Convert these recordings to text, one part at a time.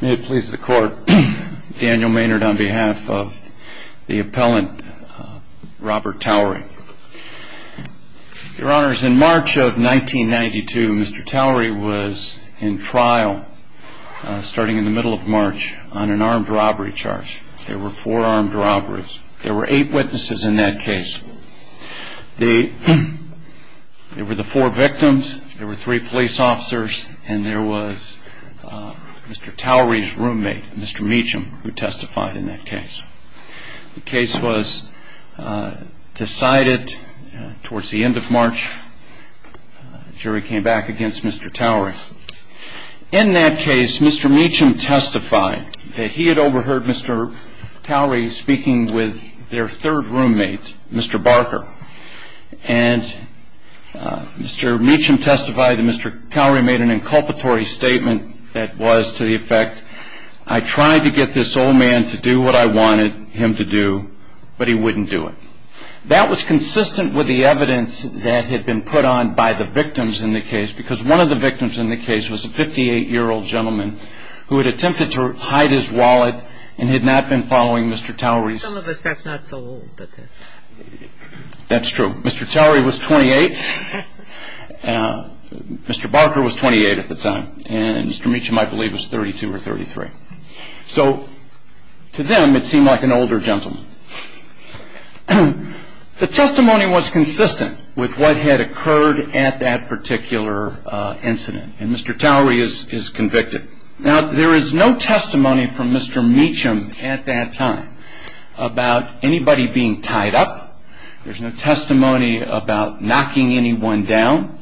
May it please the Court, Daniel Maynard on behalf of the appellant Robert Towery. Your Honors, in March of 1992, Mr. Towery was in trial starting in the middle of March on an armed robbery charge. There were four armed robberies. There were eight witnesses in that case. There were the four victims, there were three police officers, and there was Mr. Towery's roommate, Mr. Meacham, who testified in that case. The case was decided towards the end of March. The jury came back against Mr. Towery. In that case, Mr. Meacham testified that he had overheard Mr. Towery speaking with their third roommate, Mr. Barker. And Mr. Meacham testified that Mr. Towery made an inculpatory statement that was to the effect, I tried to get this old man to do what I wanted him to do, but he wouldn't do it. That was consistent with the evidence that had been put on by the victims in the case, because one of the victims in the case was a 58-year-old gentleman who had attempted to hide his wallet and had not been following Mr. Towery. Some of us, that's not so old. That's true. Mr. Towery was 28. Mr. Barker was 28 at the time. And Mr. Meacham, I believe, was 32 or 33. So to them, it seemed like an older gentleman. The testimony was consistent with what had occurred at that particular incident. And Mr. Towery is convicted. Now, there is no testimony from Mr. Meacham at that time about anybody being tied up. There's no testimony about knocking anyone down.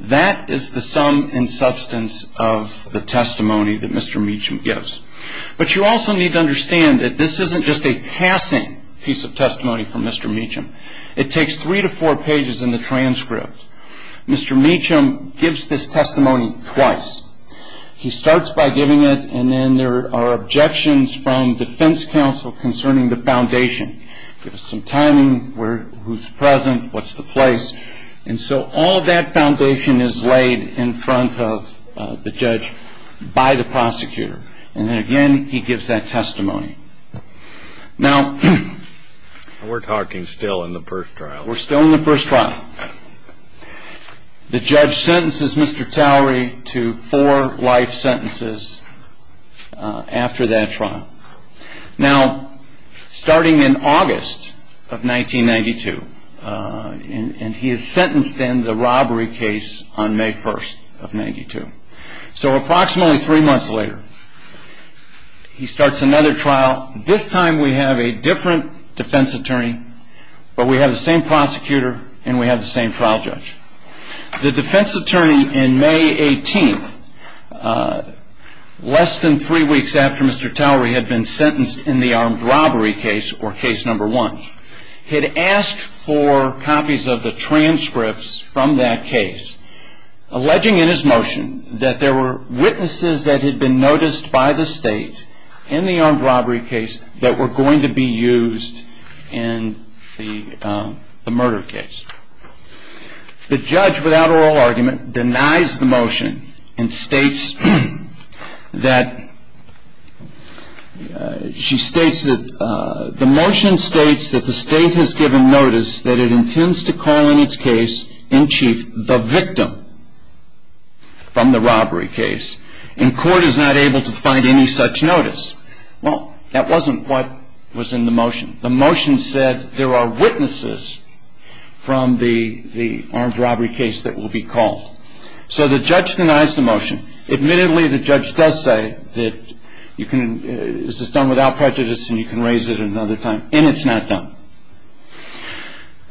That is the sum and substance of the testimony that Mr. Meacham gives. But you also need to understand that this isn't just a passing piece of testimony from Mr. Meacham. It takes three to four pages in the transcript. Mr. Meacham gives this testimony twice. He starts by giving it, and then there are objections from defense counsel concerning the foundation. Give us some timing, who's present, what's the place. And so all that foundation is laid in front of the judge by the prosecutor. And then again, he gives that testimony. Now, we're talking still in the first trial. We're still in the first trial. The judge sentences Mr. Towery to four life sentences after that trial. Now, starting in August of 1992, and he is sentenced in the robbery case on May 1st of 1992. So approximately three months later, he starts another trial. This time we have a different defense attorney, but we have the same prosecutor and we have the same trial judge. The defense attorney in May 18th, less than three weeks after Mr. Towery had been sentenced in the armed robbery case or case number one, had asked for copies of the transcripts from that case, alleging in his motion that there were witnesses that had been noticed by the state in the armed robbery case that were going to be used in the murder case. The judge, without oral argument, denies the motion and states that the motion states that the state has given notice that it intends to call in its case in chief the victim from the robbery case, and court is not able to find any such notice. Well, that wasn't what was in the motion. The motion said there are witnesses from the armed robbery case that will be called. So the judge denies the motion. Admittedly, the judge does say that this is done without prejudice and you can raise it another time, and it's not done.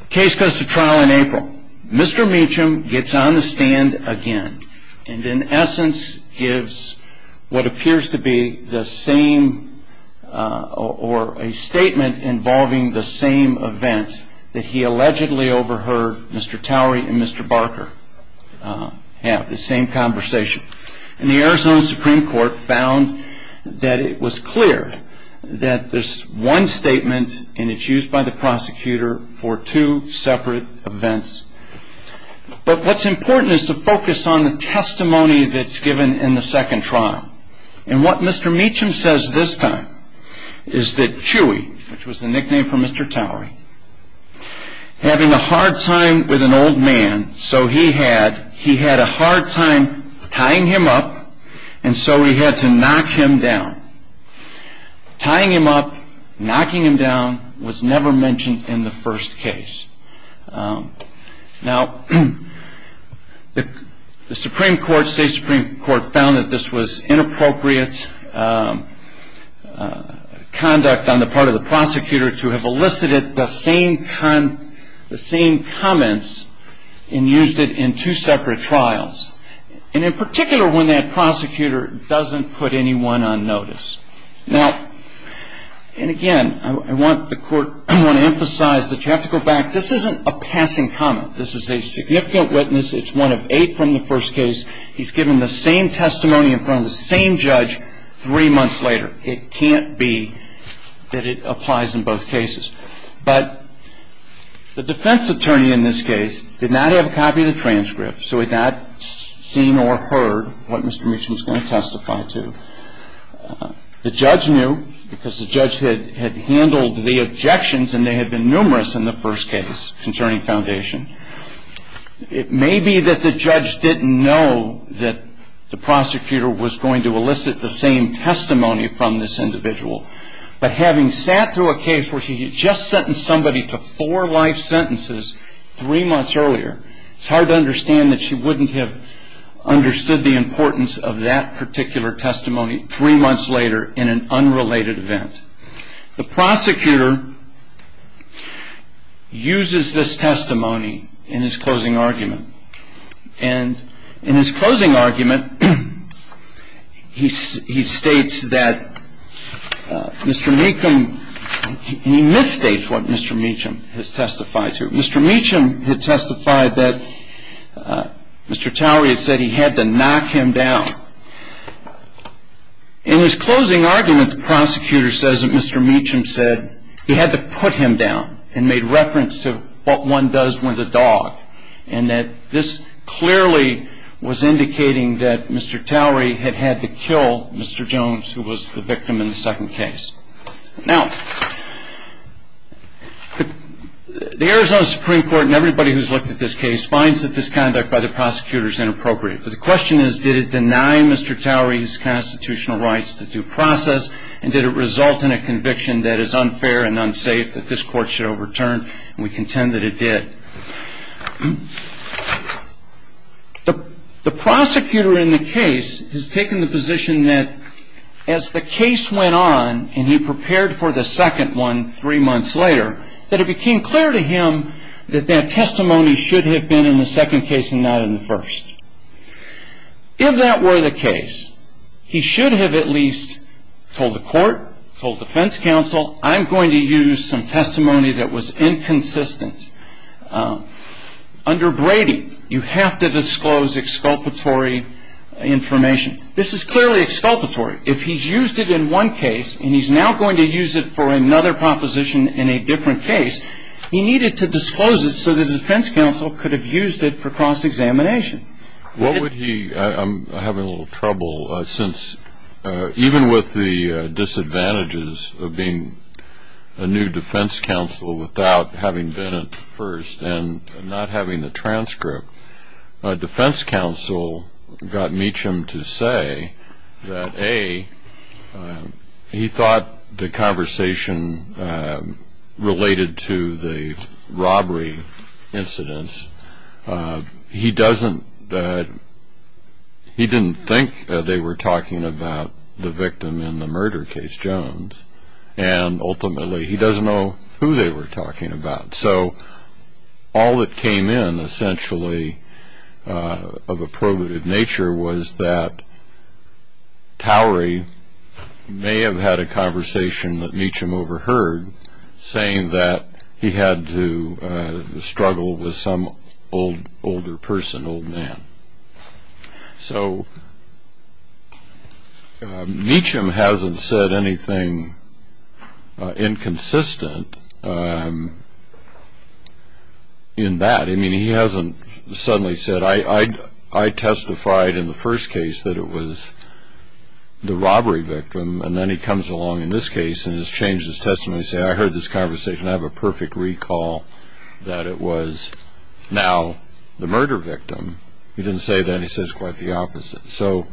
The case goes to trial in April. Mr. Meacham gets on the stand again and in essence gives what appears to be the same, or a statement involving the same event that he allegedly overheard Mr. Towery and Mr. Barker have, the same conversation. And the Arizona Supreme Court found that it was clear that this one statement, and it's used by the prosecutor for two separate events. But what's important is to focus on the testimony that's given in the second trial. And what Mr. Meacham says this time is that Chewy, which was the nickname for Mr. Towery, having a hard time with an old man, so he had a hard time tying him up, and so he had to knock him down. Tying him up, knocking him down was never mentioned in the first case. Now, the Supreme Court, state Supreme Court, found that this was inappropriate conduct on the part of the prosecutor to have elicited the same comments and used it in two separate trials, and in particular when that prosecutor doesn't put anyone on notice. Now, and again, I want to emphasize that you have to go back. This isn't a passing comment. This is a significant witness. It's one of eight from the first case. He's given the same testimony in front of the same judge three months later. It can't be that it applies in both cases. But the defense attorney in this case did not have a copy of the transcript, so he had not seen or heard what Mr. Meacham was going to testify to. The judge knew because the judge had handled the objections, and they had been numerous in the first case concerning foundation. It may be that the judge didn't know that the prosecutor was going to elicit the same testimony from this individual, but having sat through a case where he had just sentenced somebody to four life sentences three months earlier, it's hard to understand that she wouldn't have understood the importance of that particular testimony three months later in an unrelated event. The prosecutor uses this testimony in his closing argument. And in his closing argument, he states that Mr. Meacham – and he misstates what Mr. Meacham has testified to. Mr. Meacham had testified that Mr. Towery had said he had to knock him down. In his closing argument, the prosecutor says that Mr. Meacham said he had to put him down and made reference to what one does with a dog, and that this clearly was indicating that Mr. Towery had had to kill Mr. Jones, who was the victim in the second case. Now, the Arizona Supreme Court and everybody who's looked at this case finds that this conduct by the prosecutor is inappropriate. But the question is, did it deny Mr. Towery his constitutional rights to due process, and did it result in a conviction that is unfair and unsafe, that this court should overturn? And we contend that it did. The prosecutor in the case has taken the position that as the case went on, and he prepared for the second one three months later, that it became clear to him that that testimony should have been in the second case and not in the first. If that were the case, he should have at least told the court, told defense counsel, I'm going to use some testimony that was inconsistent. Under Brady, you have to disclose exculpatory information. This is clearly exculpatory. If he's used it in one case and he's now going to use it for another proposition in a different case, he needed to disclose it so that the defense counsel could have used it for cross-examination. What would he ñ I'm having a little trouble since even with the disadvantages of being a new defense counsel without having been at first and not having the transcript, defense counsel got Meacham to say that, A, he thought the conversation related to the robbery incidents. He doesn't ñ he didn't think they were talking about the victim in the murder case, Jones, and ultimately he doesn't know who they were talking about. So all that came in, essentially, of a probative nature, was that Towery may have had a conversation that Meacham overheard, saying that he had to struggle with some older person, old man. So Meacham hasn't said anything inconsistent in that. I mean, he hasn't suddenly said, I testified in the first case that it was the robbery victim, and then he comes along in this case and has changed his testimony, saying, I heard this conversation, I have a perfect recall that it was now the murder victim. He didn't say that. He says quite the opposite. So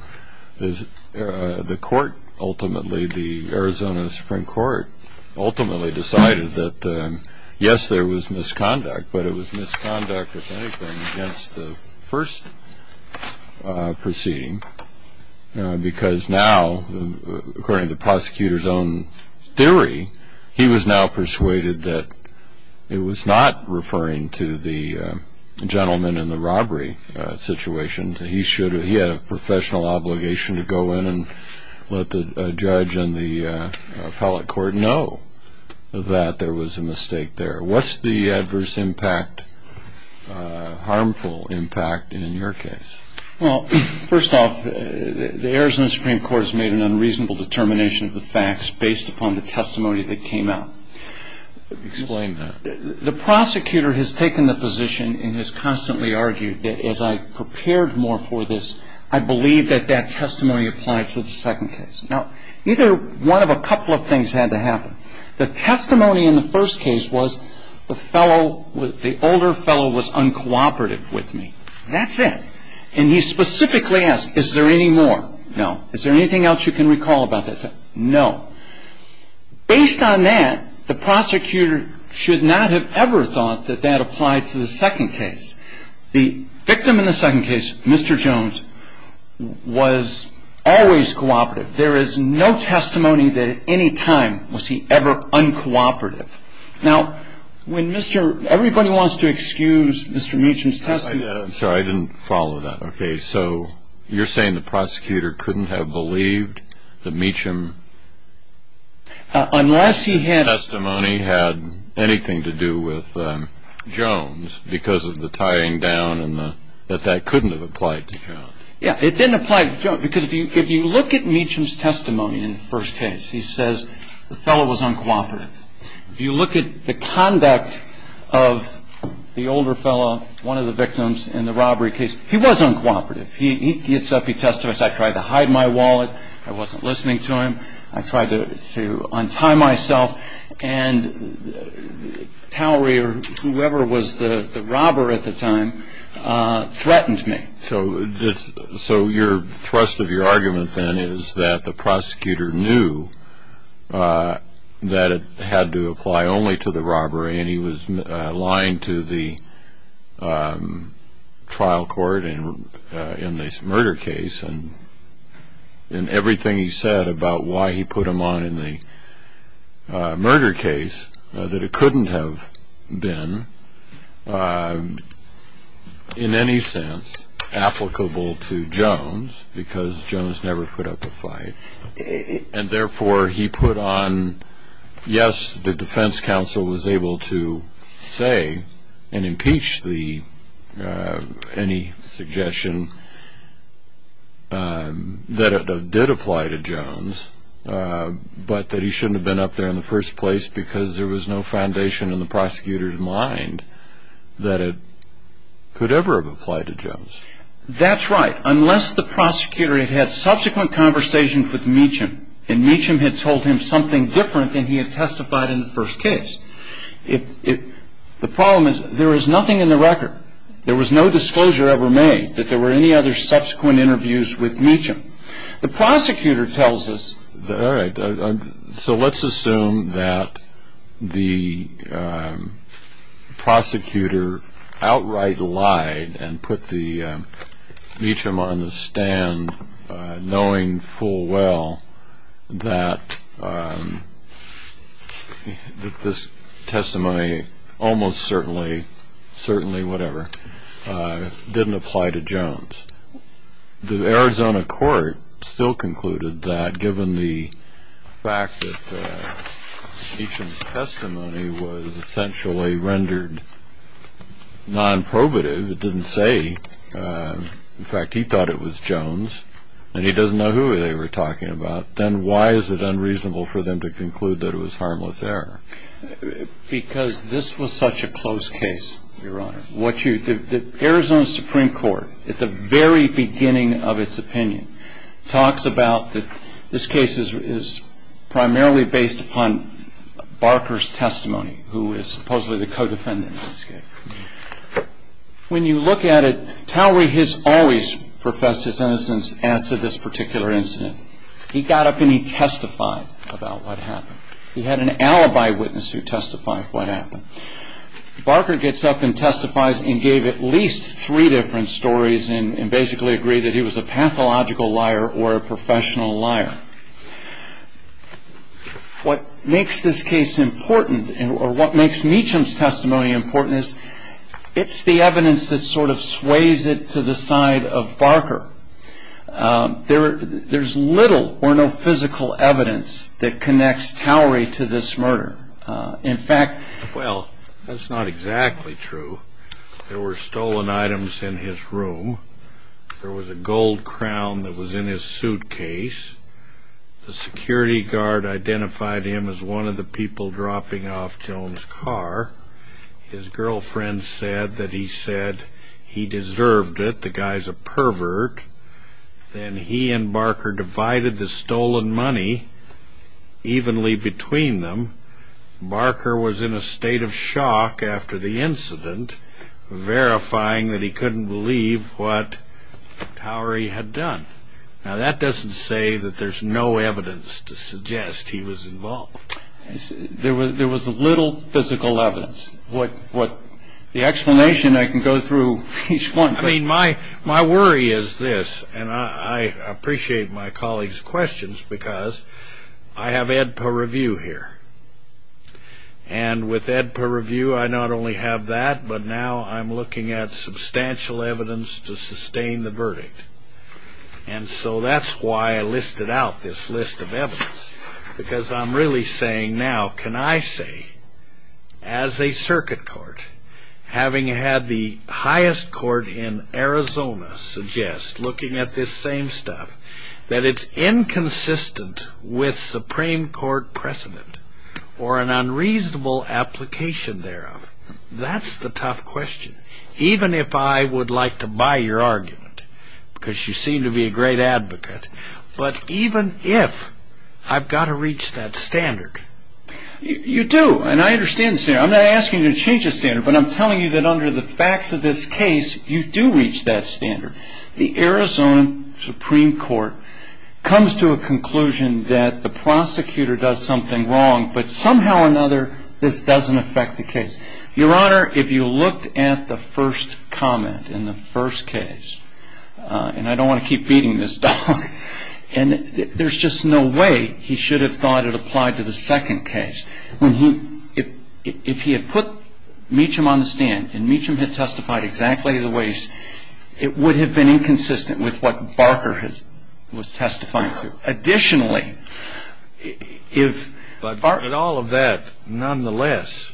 the court ultimately, the Arizona Supreme Court, ultimately decided that, yes, there was misconduct, but it was misconduct, if anything, against the first proceeding, because now, according to the prosecutor's own theory, he was now persuaded that it was not referring to the gentleman in the robbery situation. He had a professional obligation to go in and let the judge and the appellate court know that there was a mistake there. What's the adverse impact, harmful impact in your case? Well, first off, the Arizona Supreme Court has made an unreasonable determination of the facts based upon the testimony that came out. Explain that. The prosecutor has taken the position and has constantly argued that as I prepared more for this, I believe that that testimony applies to the second case. Now, either one of a couple of things had to happen. The testimony in the first case was the fellow, the older fellow was uncooperative with me. That's it. And he specifically asked, is there any more? No. Is there anything else you can recall about that? No. Based on that, the prosecutor should not have ever thought that that applied to the second case. The victim in the second case, Mr. Jones, was always cooperative. There is no testimony that at any time was he ever uncooperative. Now, when Mr. – everybody wants to excuse Mr. Meacham's testimony. I'm sorry. I didn't follow that. Okay. So you're saying the prosecutor couldn't have believed that Meacham's testimony had anything to do with Jones because of the tying down and that that couldn't have applied to Jones? Yeah. It didn't apply to Jones because if you look at Meacham's testimony in the first case, he says the fellow was uncooperative. If you look at the conduct of the older fellow, one of the victims in the robbery case, he was uncooperative. He gets up. He testifies, I tried to hide my wallet. I wasn't listening to him. I tried to untie myself. And Towery or whoever was the robber at the time threatened me. So your thrust of your argument then is that the prosecutor knew that it had to apply only to the robbery and he was lying to the trial court in this murder case and everything he said about why he put him on in the murder case, that it couldn't have been in any sense applicable to Jones because Jones never put up a fight. And therefore he put on, yes, the defense counsel was able to say and impeach any suggestion that it did apply to Jones, but that he shouldn't have been up there in the first place because there was no foundation in the prosecutor's mind that it could ever have applied to Jones. That's right, unless the prosecutor had had subsequent conversations with Meacham and Meacham had told him something different than he had testified in the first case. The problem is there is nothing in the record. There was no disclosure ever made that there were any other subsequent interviews with Meacham. The prosecutor tells us, so let's assume that the prosecutor outright lied and put Meacham on the stand knowing full well that this testimony almost certainly, certainly whatever, didn't apply to Jones. The Arizona court still concluded that given the fact that Meacham's testimony was essentially rendered non-probative, it didn't say, in fact, he thought it was Jones and he doesn't know who they were talking about, then why is it unreasonable for them to conclude that it was harmless error? Because this was such a close case, Your Honor. The Arizona Supreme Court, at the very beginning of its opinion, talks about that this case is primarily based upon Barker's testimony, who is supposedly the co-defendant in this case. When you look at it, Towery has always professed his innocence as to this particular incident. He got up and he testified about what happened. He had an alibi witness who testified what happened. Barker gets up and testifies and gave at least three different stories and basically agreed that he was a pathological liar or a professional liar. What makes this case important or what makes Meacham's testimony important is it's the evidence that sort of sways it to the side of Barker. There's little or no physical evidence that connects Towery to this murder. Well, that's not exactly true. There were stolen items in his room. There was a gold crown that was in his suitcase. The security guard identified him as one of the people dropping off Joan's car. His girlfriend said that he said he deserved it, the guy's a pervert. Then he and Barker divided the stolen money evenly between them. Barker was in a state of shock after the incident, verifying that he couldn't believe what Towery had done. Now, that doesn't say that there's no evidence to suggest he was involved. There was little physical evidence. The explanation, I can go through each one. I mean, my worry is this, and I appreciate my colleagues' questions because I have Ed per review here. And with Ed per review, I not only have that, but now I'm looking at substantial evidence to sustain the verdict. And so that's why I listed out this list of evidence because I'm really saying now, what can I say as a circuit court, having had the highest court in Arizona suggest looking at this same stuff, that it's inconsistent with Supreme Court precedent or an unreasonable application thereof. That's the tough question, even if I would like to buy your argument because you seem to be a great advocate. But even if I've got to reach that standard. You do, and I understand the standard. I'm not asking you to change the standard, but I'm telling you that under the facts of this case, you do reach that standard. The Arizona Supreme Court comes to a conclusion that the prosecutor does something wrong, but somehow or another, this doesn't affect the case. Your Honor, if you looked at the first comment in the first case, and I don't want to keep beating this dog, and there's just no way he should have thought it applied to the second case. If he had put Meacham on the stand and Meacham had testified exactly the ways, it would have been inconsistent with what Barker was testifying to. Additionally, if Barker... But all of that, nonetheless,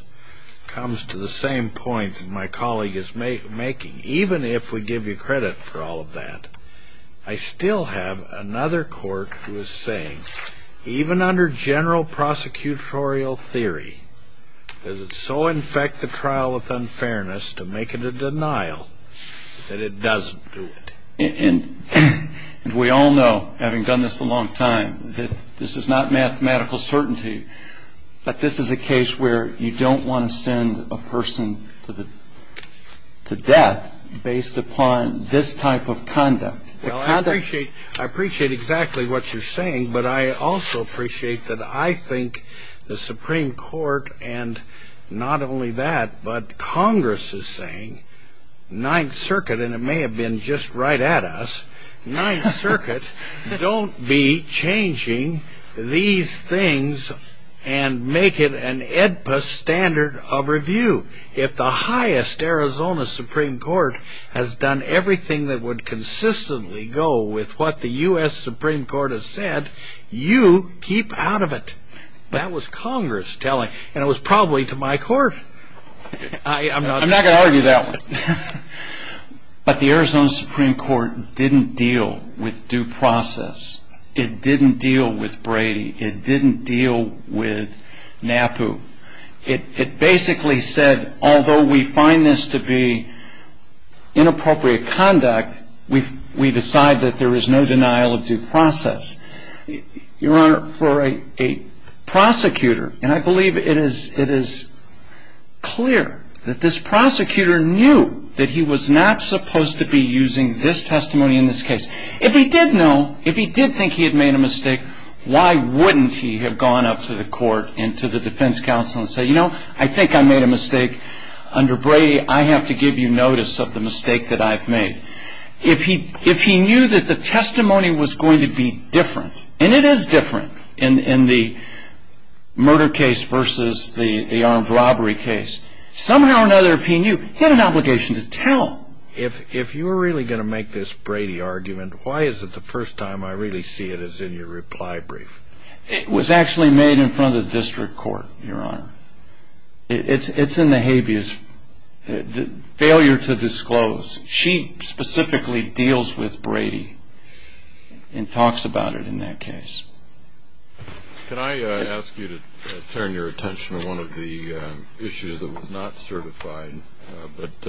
comes to the same point that my colleague is making. Even if we give you credit for all of that, I still have another court who is saying, even under general prosecutorial theory, does it so infect the trial with unfairness to make it a denial that it doesn't do it? And we all know, having done this a long time, that this is not mathematical certainty, but this is a case where you don't want to send a person to death based upon this type of conduct. I appreciate exactly what you're saying, but I also appreciate that I think the Supreme Court, and not only that, but Congress is saying, Ninth Circuit, and it may have been just right at us, Ninth Circuit, don't be changing these things and make it an AEDPA standard of review. If the highest Arizona Supreme Court has done everything that would consistently go with what the U.S. Supreme Court has said, you keep out of it. That was Congress telling, and it was probably to my court. I'm not going to argue that one. But the Arizona Supreme Court didn't deal with due process. It didn't deal with Brady. It didn't deal with NAPU. It basically said, although we find this to be inappropriate conduct, we decide that there is no denial of due process. Your Honor, for a prosecutor, and I believe it is clear that this prosecutor knew that he was not supposed to be using this testimony in this case. If he did know, if he did think he had made a mistake, why wouldn't he have gone up to the court and to the defense counsel and said, you know, I think I made a mistake under Brady. I have to give you notice of the mistake that I've made. If he knew that the testimony was going to be different, and it is different in the murder case versus the armed robbery case, somehow or another, if he knew, he had an obligation to tell. If you're really going to make this Brady argument, why is it the first time I really see it as in your reply brief? It was actually made in front of the district court, Your Honor. It's in the habeas, the failure to disclose. She specifically deals with Brady and talks about it in that case. Can I ask you to turn your attention to one of the issues that was not certified? But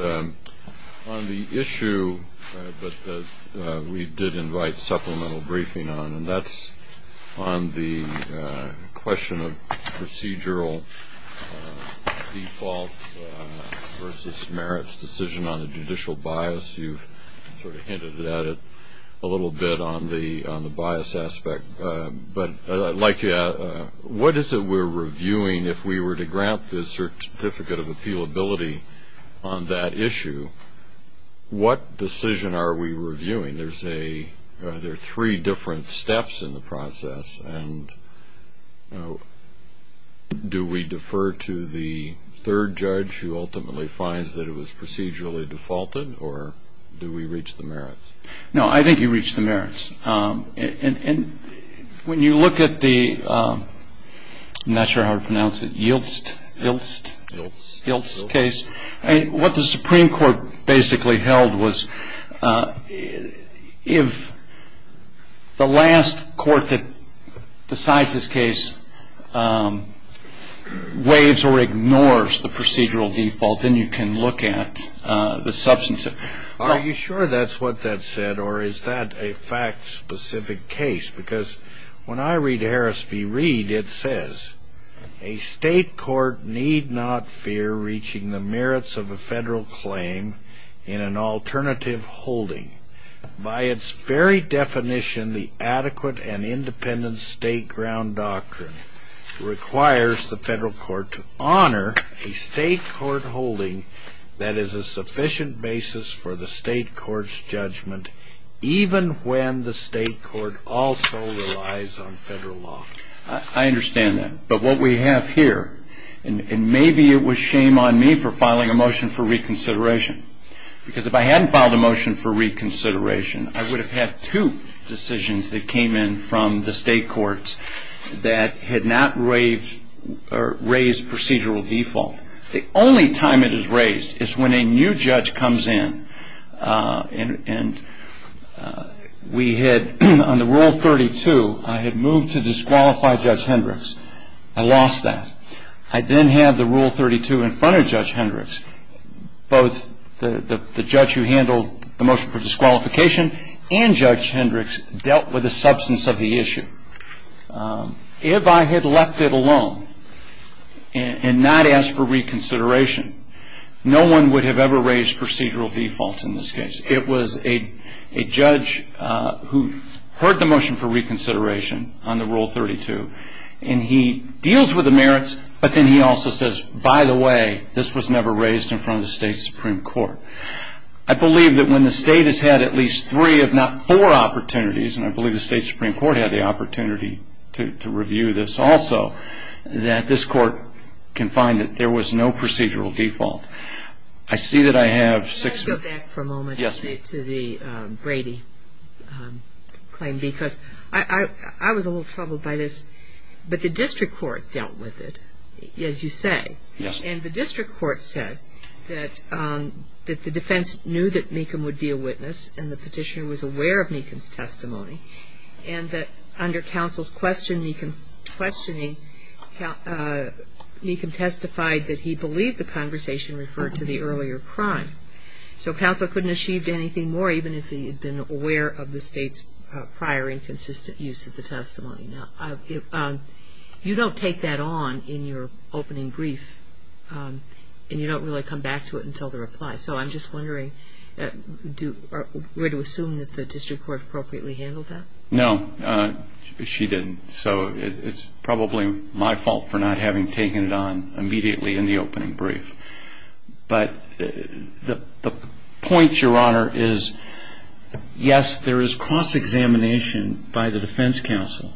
on the issue that we did invite supplemental briefing on, and that's on the question of procedural default versus merits decision on a judicial bias. You've sort of hinted at it a little bit on the bias aspect. But what is it we're reviewing if we were to grant the certificate of appealability on that issue? What decision are we reviewing? There are three different steps in the process. Do we defer to the third judge who ultimately finds that it was procedurally defaulted, or do we reach the merits? No, I think you reach the merits. When you look at the, I'm not sure how to pronounce it, Yiltz case, what the Supreme Court basically held was if the last court that decides this case waives or ignores the procedural default, then you can look at the substantive. Are you sure that's what that said, or is that a fact-specific case? Because when I read Harris v. Reed, it says, a state court need not fear reaching the merits of a federal claim in an alternative holding. By its very definition, the adequate and independent state ground doctrine requires the federal court to honor a state court holding that is a sufficient basis for the state court's judgment, even when the state court also relies on federal law. I understand that. But what we have here, and maybe it was shame on me for filing a motion for reconsideration, because if I hadn't filed a motion for reconsideration, I would have had two decisions that came in from the state courts that had not raised procedural default. The only time it is raised is when a new judge comes in and we had, on the Rule 32, I had moved to disqualify Judge Hendricks. I lost that. I then had the Rule 32 in front of Judge Hendricks. Both the judge who handled the motion for disqualification and Judge Hendricks dealt with the substance of the issue. If I had left it alone and not asked for reconsideration, no one would have ever raised procedural default in this case. It was a judge who heard the motion for reconsideration on the Rule 32, and he deals with the merits, but then he also says, by the way, this was never raised in front of the state supreme court. I believe that when the state has had at least three, if not four, opportunities, and I believe the state supreme court had the opportunity to review this also, that this court can find that there was no procedural default. I see that I have six. Can I go back for a moment to the Brady claim? Because I was a little troubled by this, but the district court dealt with it, as you say. Yes. And the district court said that the defense knew that Mecham would be a witness, and the petitioner was aware of Mecham's testimony, and that under counsel's questioning, Mecham testified that he believed the conversation referred to the earlier crime. So counsel couldn't have achieved anything more, even if he had been aware of the state's prior inconsistent use of the testimony. You don't take that on in your opening brief, and you don't really come back to it until the reply. So I'm just wondering, were to assume that the district court appropriately handled that? No, she didn't. So it's probably my fault for not having taken it on immediately in the opening brief. But the point, Your Honor, is, yes, there is cross-examination by the defense counsel,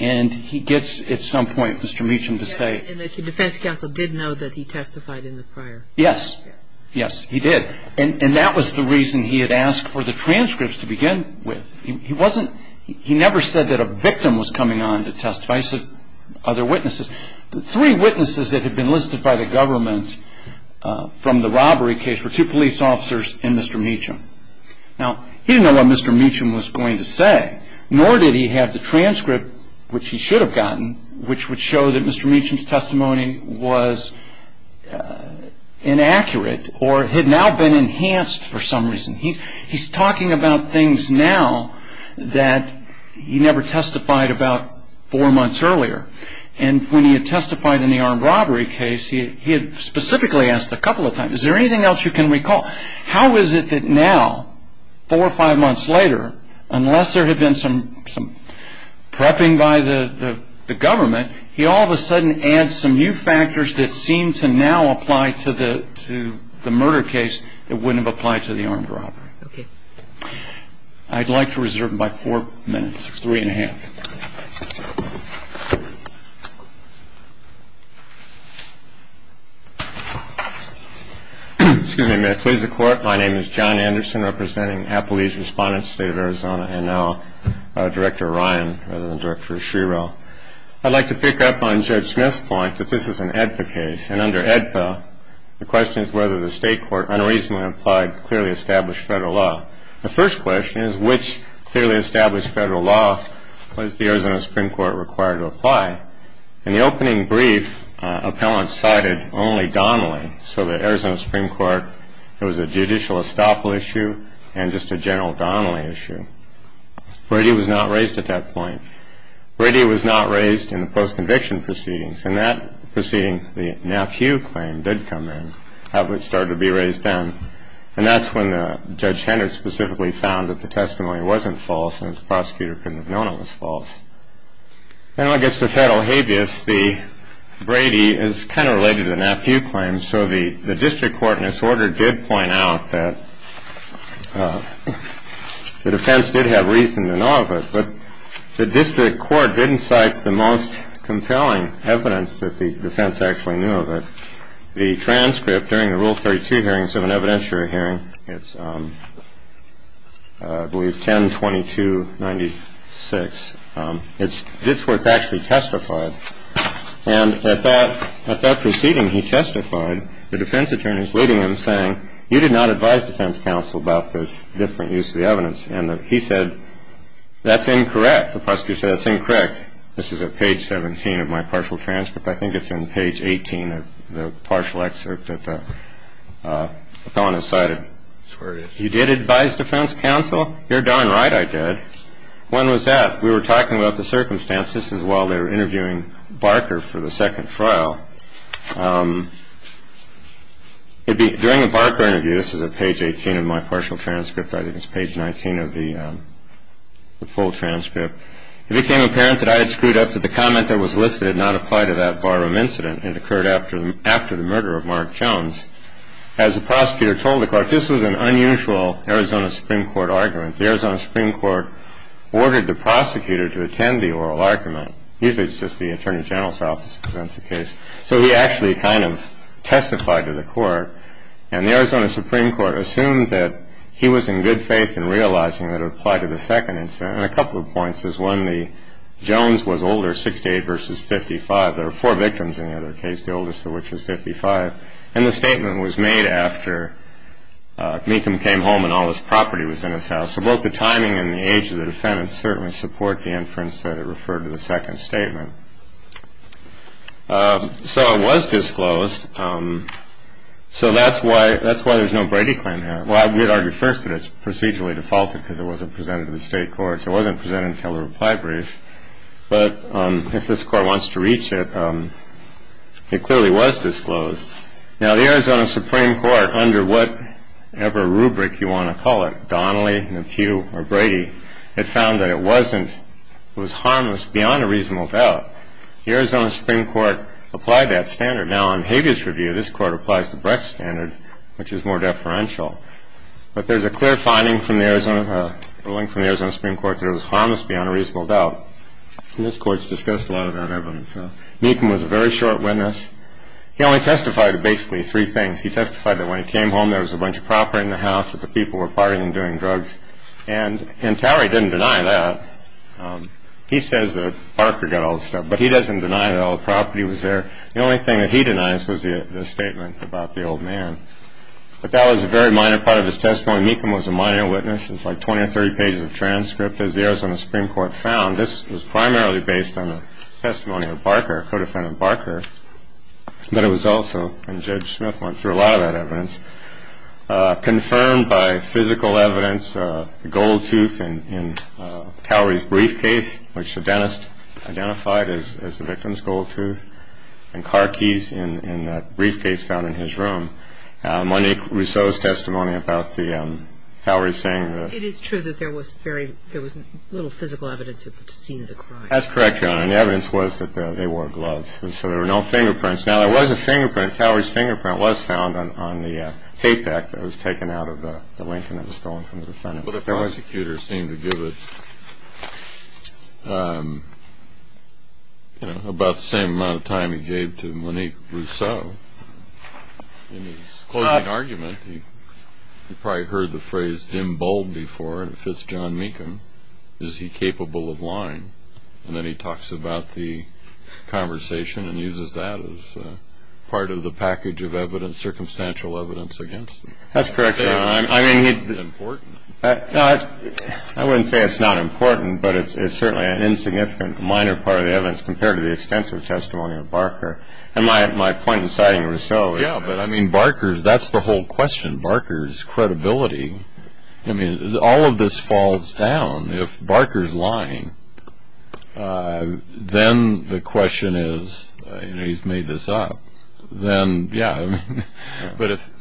and he gets at some point Mr. Mecham to say. And the defense counsel did know that he testified in the prior. Yes. Yes, he did. And that was the reason he had asked for the transcripts to begin with. He never said that a victim was coming on to testify, other witnesses. The three witnesses that had been listed by the government from the robbery case were two police officers and Mr. Mecham. Now, he didn't know what Mr. Mecham was going to say, nor did he have the transcript, which he should have gotten, which would show that Mr. Mecham's testimony was inaccurate or had now been enhanced for some reason. He's talking about things now that he never testified about four months earlier. And when he had testified in the armed robbery case, he had specifically asked a couple of times, is there anything else you can recall? How is it that now, four or five months later, unless there had been some prepping by the government, he all of a sudden adds some new factors that seem to now apply to the murder case that wouldn't have applied to the armed robbery? Okay. I'd like to reserve my four minutes, three and a half. Excuse me a minute. Please, the Court. My name is John Anderson, representing Appalachian Respondents, State of Arizona, and now Director Ryan rather than Director Schreerow. I'd like to pick up on Judge Smith's point that this is an AEDPA case. And under AEDPA, the question is whether the State court unreasonably implied clearly established Federal law. The first question is, which clearly established Federal law was the Arizona Supreme Court required to apply? In the opening brief, appellants cited only Donnelly, so the Arizona Supreme Court, it was a judicial estoppel issue and just a general Donnelly issue. Brady was not raised at that point. Brady was not raised in the post-conviction proceedings. In that proceeding, the NAPHEW claim did come in. That was started to be raised then. And that's when Judge Henders specifically found that the testimony wasn't false and the prosecutor couldn't have known it was false. Then when it gets to Federal habeas, the Brady is kind of related to the NAPHEW claim. So the district court, in its order, did point out that the defense did have reason to know of it. But the district court didn't cite the most compelling evidence that the defense actually knew of it. The transcript during the Rule 32 hearings of an evidentiary hearing, it's, I believe, 10-22-96. It's where it's actually testified. And at that proceeding, he testified, the defense attorneys leading him saying, you did not advise defense counsel about this different use of the evidence. And he said, that's incorrect. The prosecutor said, that's incorrect. This is at page 17 of my partial transcript. I think it's in page 18 of the partial excerpt that the felon has cited. That's where it is. You did advise defense counsel? You're darn right I did. When was that? We were talking about the circumstances. This is while they were interviewing Barker for the second trial. During the Barker interview, this is at page 18 of my partial transcript. I think it's page 19 of the full transcript. It became apparent that I had screwed up, that the comment that was listed did not apply to that barroom incident. It occurred after the murder of Mark Jones. As the prosecutor told the court, this was an unusual Arizona Supreme Court argument. The Arizona Supreme Court ordered the prosecutor to attend the oral argument. Usually, it's just the attorney general's office presents the case. So he actually kind of testified to the court. And the Arizona Supreme Court assumed that he was in good faith in realizing that it applied to the second incident. And a couple of points. One, the Jones was older, 68 versus 55. There were four victims in the other case, the oldest of which was 55. And the statement was made after Mecham came home and all this property was in his house. So both the timing and the age of the defendant certainly support the inference that it referred to the second statement. So it was disclosed. So that's why there's no Brady claim here. Well, we'd argue first that it's procedurally defaulted because it wasn't presented to the state courts. It wasn't presented until the reply brief. But if this Court wants to reach it, it clearly was disclosed. Now, the Arizona Supreme Court, under whatever rubric you want to call it, Donnelly, McHugh, or Brady, it found that it wasn't – it was harmless beyond a reasonable doubt. The Arizona Supreme Court applied that standard. Now, in Hague's review, this Court applies the Brecht standard, which is more deferential. But there's a clear finding from the Arizona – ruling from the Arizona Supreme Court that it was harmless beyond a reasonable doubt. And this Court's discussed a lot of that evidence. Mecham was a very short witness. He only testified to basically three things. He testified that when he came home, there was a bunch of property in the house, that the people were partying and doing drugs. And – and Towery didn't deny that. He says that Parker got all the stuff. But he doesn't deny that all the property was there. The only thing that he denies was the – the statement about the old man. But that was a very minor part of his testimony. Mecham was a minor witness. It's like 20 or 30 pages of transcript. As the Arizona Supreme Court found, this was primarily based on the testimony of Barker, co-defendant Barker. But it was also – and Judge Smith went through a lot of that evidence – in that briefcase found in his room. Monique Rousseau's testimony about the – Towery saying that – It is true that there was very – there was little physical evidence of seeing the crime. That's correct, Your Honor. And the evidence was that they wore gloves. And so there were no fingerprints. Now, there was a fingerprint – Towery's fingerprint was found on the tape deck that was taken out of the Lincoln that was stolen from the defendant. But the prosecutor seemed to give it, you know, about the same amount of time he gave to Monique Rousseau. In his closing argument, he probably heard the phrase, dim bulb before, and it fits John Mecham. Is he capable of lying? And then he talks about the conversation and uses that as part of the package of evidence, circumstantial evidence against him. That's correct, Your Honor. Is it important? I wouldn't say it's not important, but it's certainly an insignificant, minor part of the evidence compared to the extensive testimony of Barker. And my point in citing Rousseau is – Yeah, but, I mean, Barker's – that's the whole question, Barker's credibility. I mean, all of this falls down. If Barker's lying, then the question is, you know, he's made this up. Then, yeah. I mean, but if –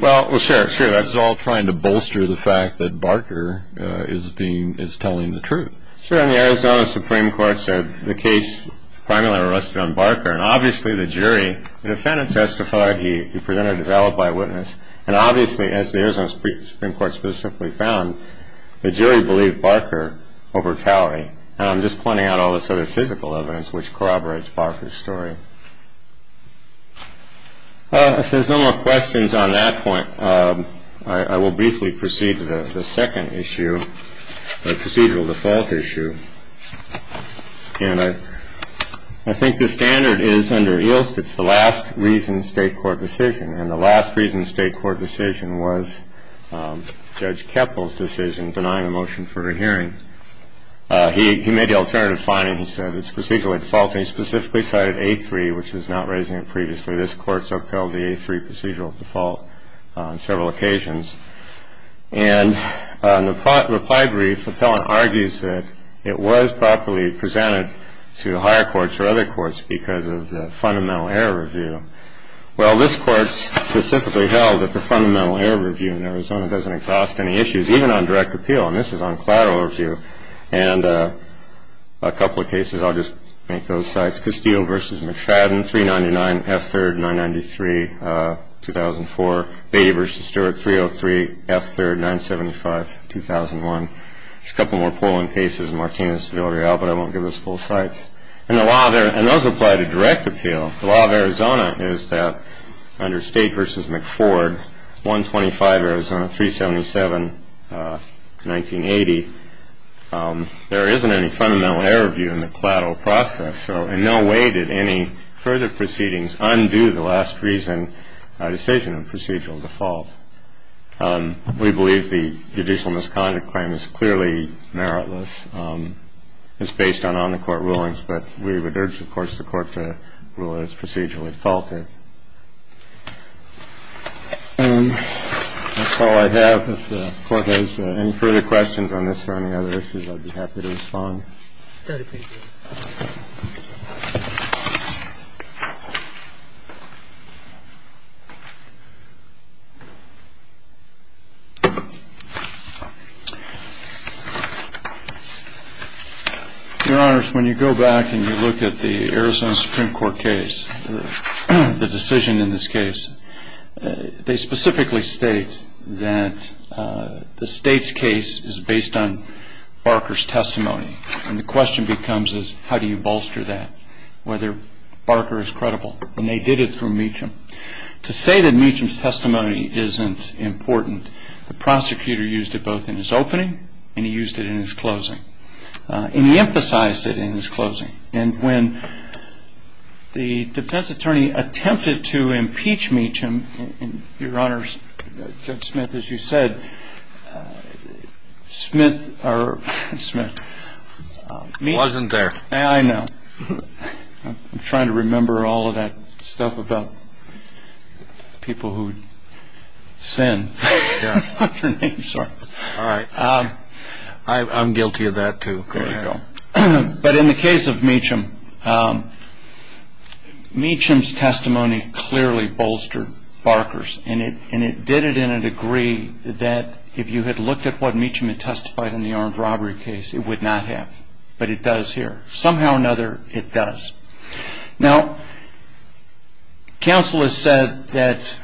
well, sure, sure. That's all trying to bolster the fact that Barker is being – is telling the truth. Sure. And the Arizona Supreme Court said the case primarily rested on Barker. And obviously, the jury – the defendant testified. He presented his alibi witness. And obviously, as the Arizona Supreme Court specifically found, the jury believed Barker over Cowley. And I'm just pointing out all this other physical evidence which corroborates Barker's story. If there's no more questions on that point, I will briefly proceed to the second issue, the procedural default issue. And I think the standard is, under Ilst, it's the last reason state court decision. And the last reason state court decision was Judge Keppel's decision, denying a motion for a hearing. He made the alternative finding. He said it's procedural default. And he specifically cited A-3, which is not raising it previously. This Court's upheld the A-3 procedural default on several occasions. And in the reply brief, the appellant argues that it was properly presented to higher courts or other courts because of the fundamental error review. Well, this Court specifically held that the fundamental error review in Arizona doesn't exhaust any issues, even on direct appeal. And this is on collateral review. And a couple of cases, I'll just make those cites. Castillo v. McFadden, 399, F3rd, 993, 2004. Beatty v. Stewart, 303, F3rd, 975, 2001. There's a couple more polling cases. Martinez, Villarreal, but I won't give those full cites. And those apply to direct appeal. The law of Arizona is that under State v. McFord, 125 Arizona, 377, 1980, there isn't any fundamental error review in the collateral process. So in no way did any further proceedings undo the last reason decision of procedural default. We believe the judicial misconduct claim is clearly meritless. It's based on on-the-court rulings, but we would urge, of course, the Court to rule that it's procedurally faulted. That's all I have. If the Court has any further questions on this or any other issues, I'd be happy to respond. Thank you. Your Honors, when you go back and you look at the Arizona Supreme Court case, the decision in this case, they specifically state that the State's case is based on Barker's testimony. And the question becomes is how do you bolster that, whether Barker is credible? And they did it through Meacham. To say that Meacham's testimony isn't important, the prosecutor used it both in his opening and he used it in his closing. And he emphasized it in his closing. And when the defense attorney attempted to impeach Meacham, Your Honors, Judge Smith, as you said, Smith or Smith. Wasn't there. I know. I'm trying to remember all of that stuff about people who sin. All right. I'm guilty of that too. There you go. But in the case of Meacham, Meacham's testimony clearly bolstered Barker's. And it did it in a degree that if you had looked at what Meacham had testified in the armed robbery case, it would not have. But it does here. Somehow or another, it does. Now, counsel has said that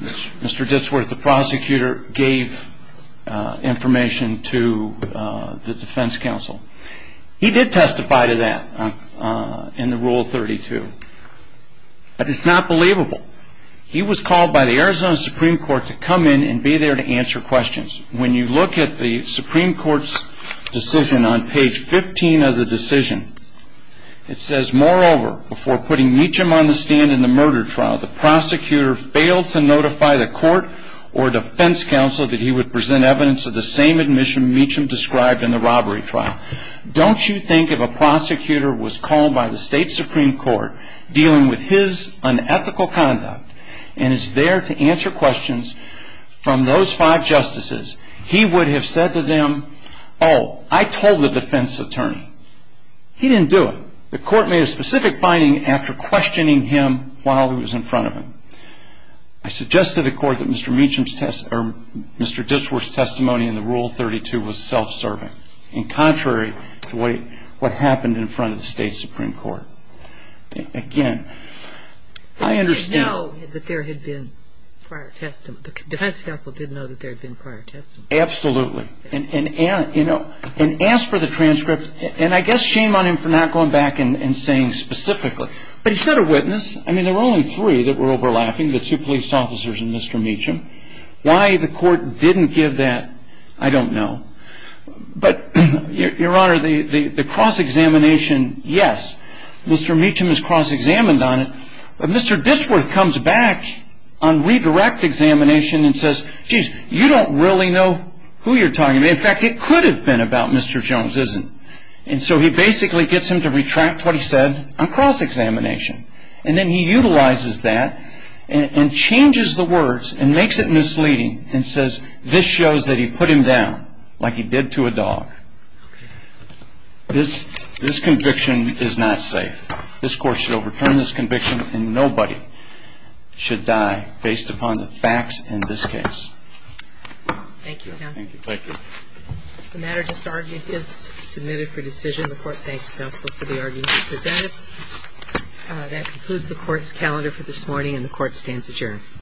Mr. Ditsworth, the prosecutor, gave information to the defense counsel. He did testify to that in the Rule 32. But it's not believable. He was called by the Arizona Supreme Court to come in and be there to answer questions. When you look at the Supreme Court's decision on page 15 of the decision, it says, Moreover, before putting Meacham on the stand in the murder trial, the prosecutor failed to notify the court or defense counsel that he would present evidence of the same admission Meacham described in the robbery trial. Don't you think if a prosecutor was called by the state Supreme Court dealing with his unethical conduct and is there to answer questions from those five justices, he would have said to them, Oh, I told the defense attorney. He didn't do it. The court made a specific finding after questioning him while he was in front of him. I suggest to the court that Mr. Meacham's testimony or Mr. Ditsworth's testimony in the Rule 32 was self-serving, in contrary to what happened in front of the state Supreme Court. Again, I understand. He did know that there had been prior testimony. The defense counsel did know that there had been prior testimony. Absolutely. And ask for the transcript. And I guess shame on him for not going back and saying specifically. But he said a witness. I mean, there were only three that were overlapping, the two police officers and Mr. Meacham. Why the court didn't give that, I don't know. But, Your Honor, the cross-examination, yes, Mr. Meacham is cross-examined on it. But Mr. Ditsworth comes back on redirect examination and says, Jeez, you don't really know who you're talking to. In fact, it could have been about Mr. Jones, isn't it? And so he basically gets him to retract what he said on cross-examination. And then he utilizes that and changes the words and makes it misleading and says, This shows that he put him down like he did to a dog. This conviction is not safe. This court should overturn this conviction and nobody should die based upon the facts in this case. Thank you, counsel. Thank you. The matter just argued is submitted for decision. The court thanks counsel for the argument presented. That concludes the court's calendar for this morning, and the court stands adjourned.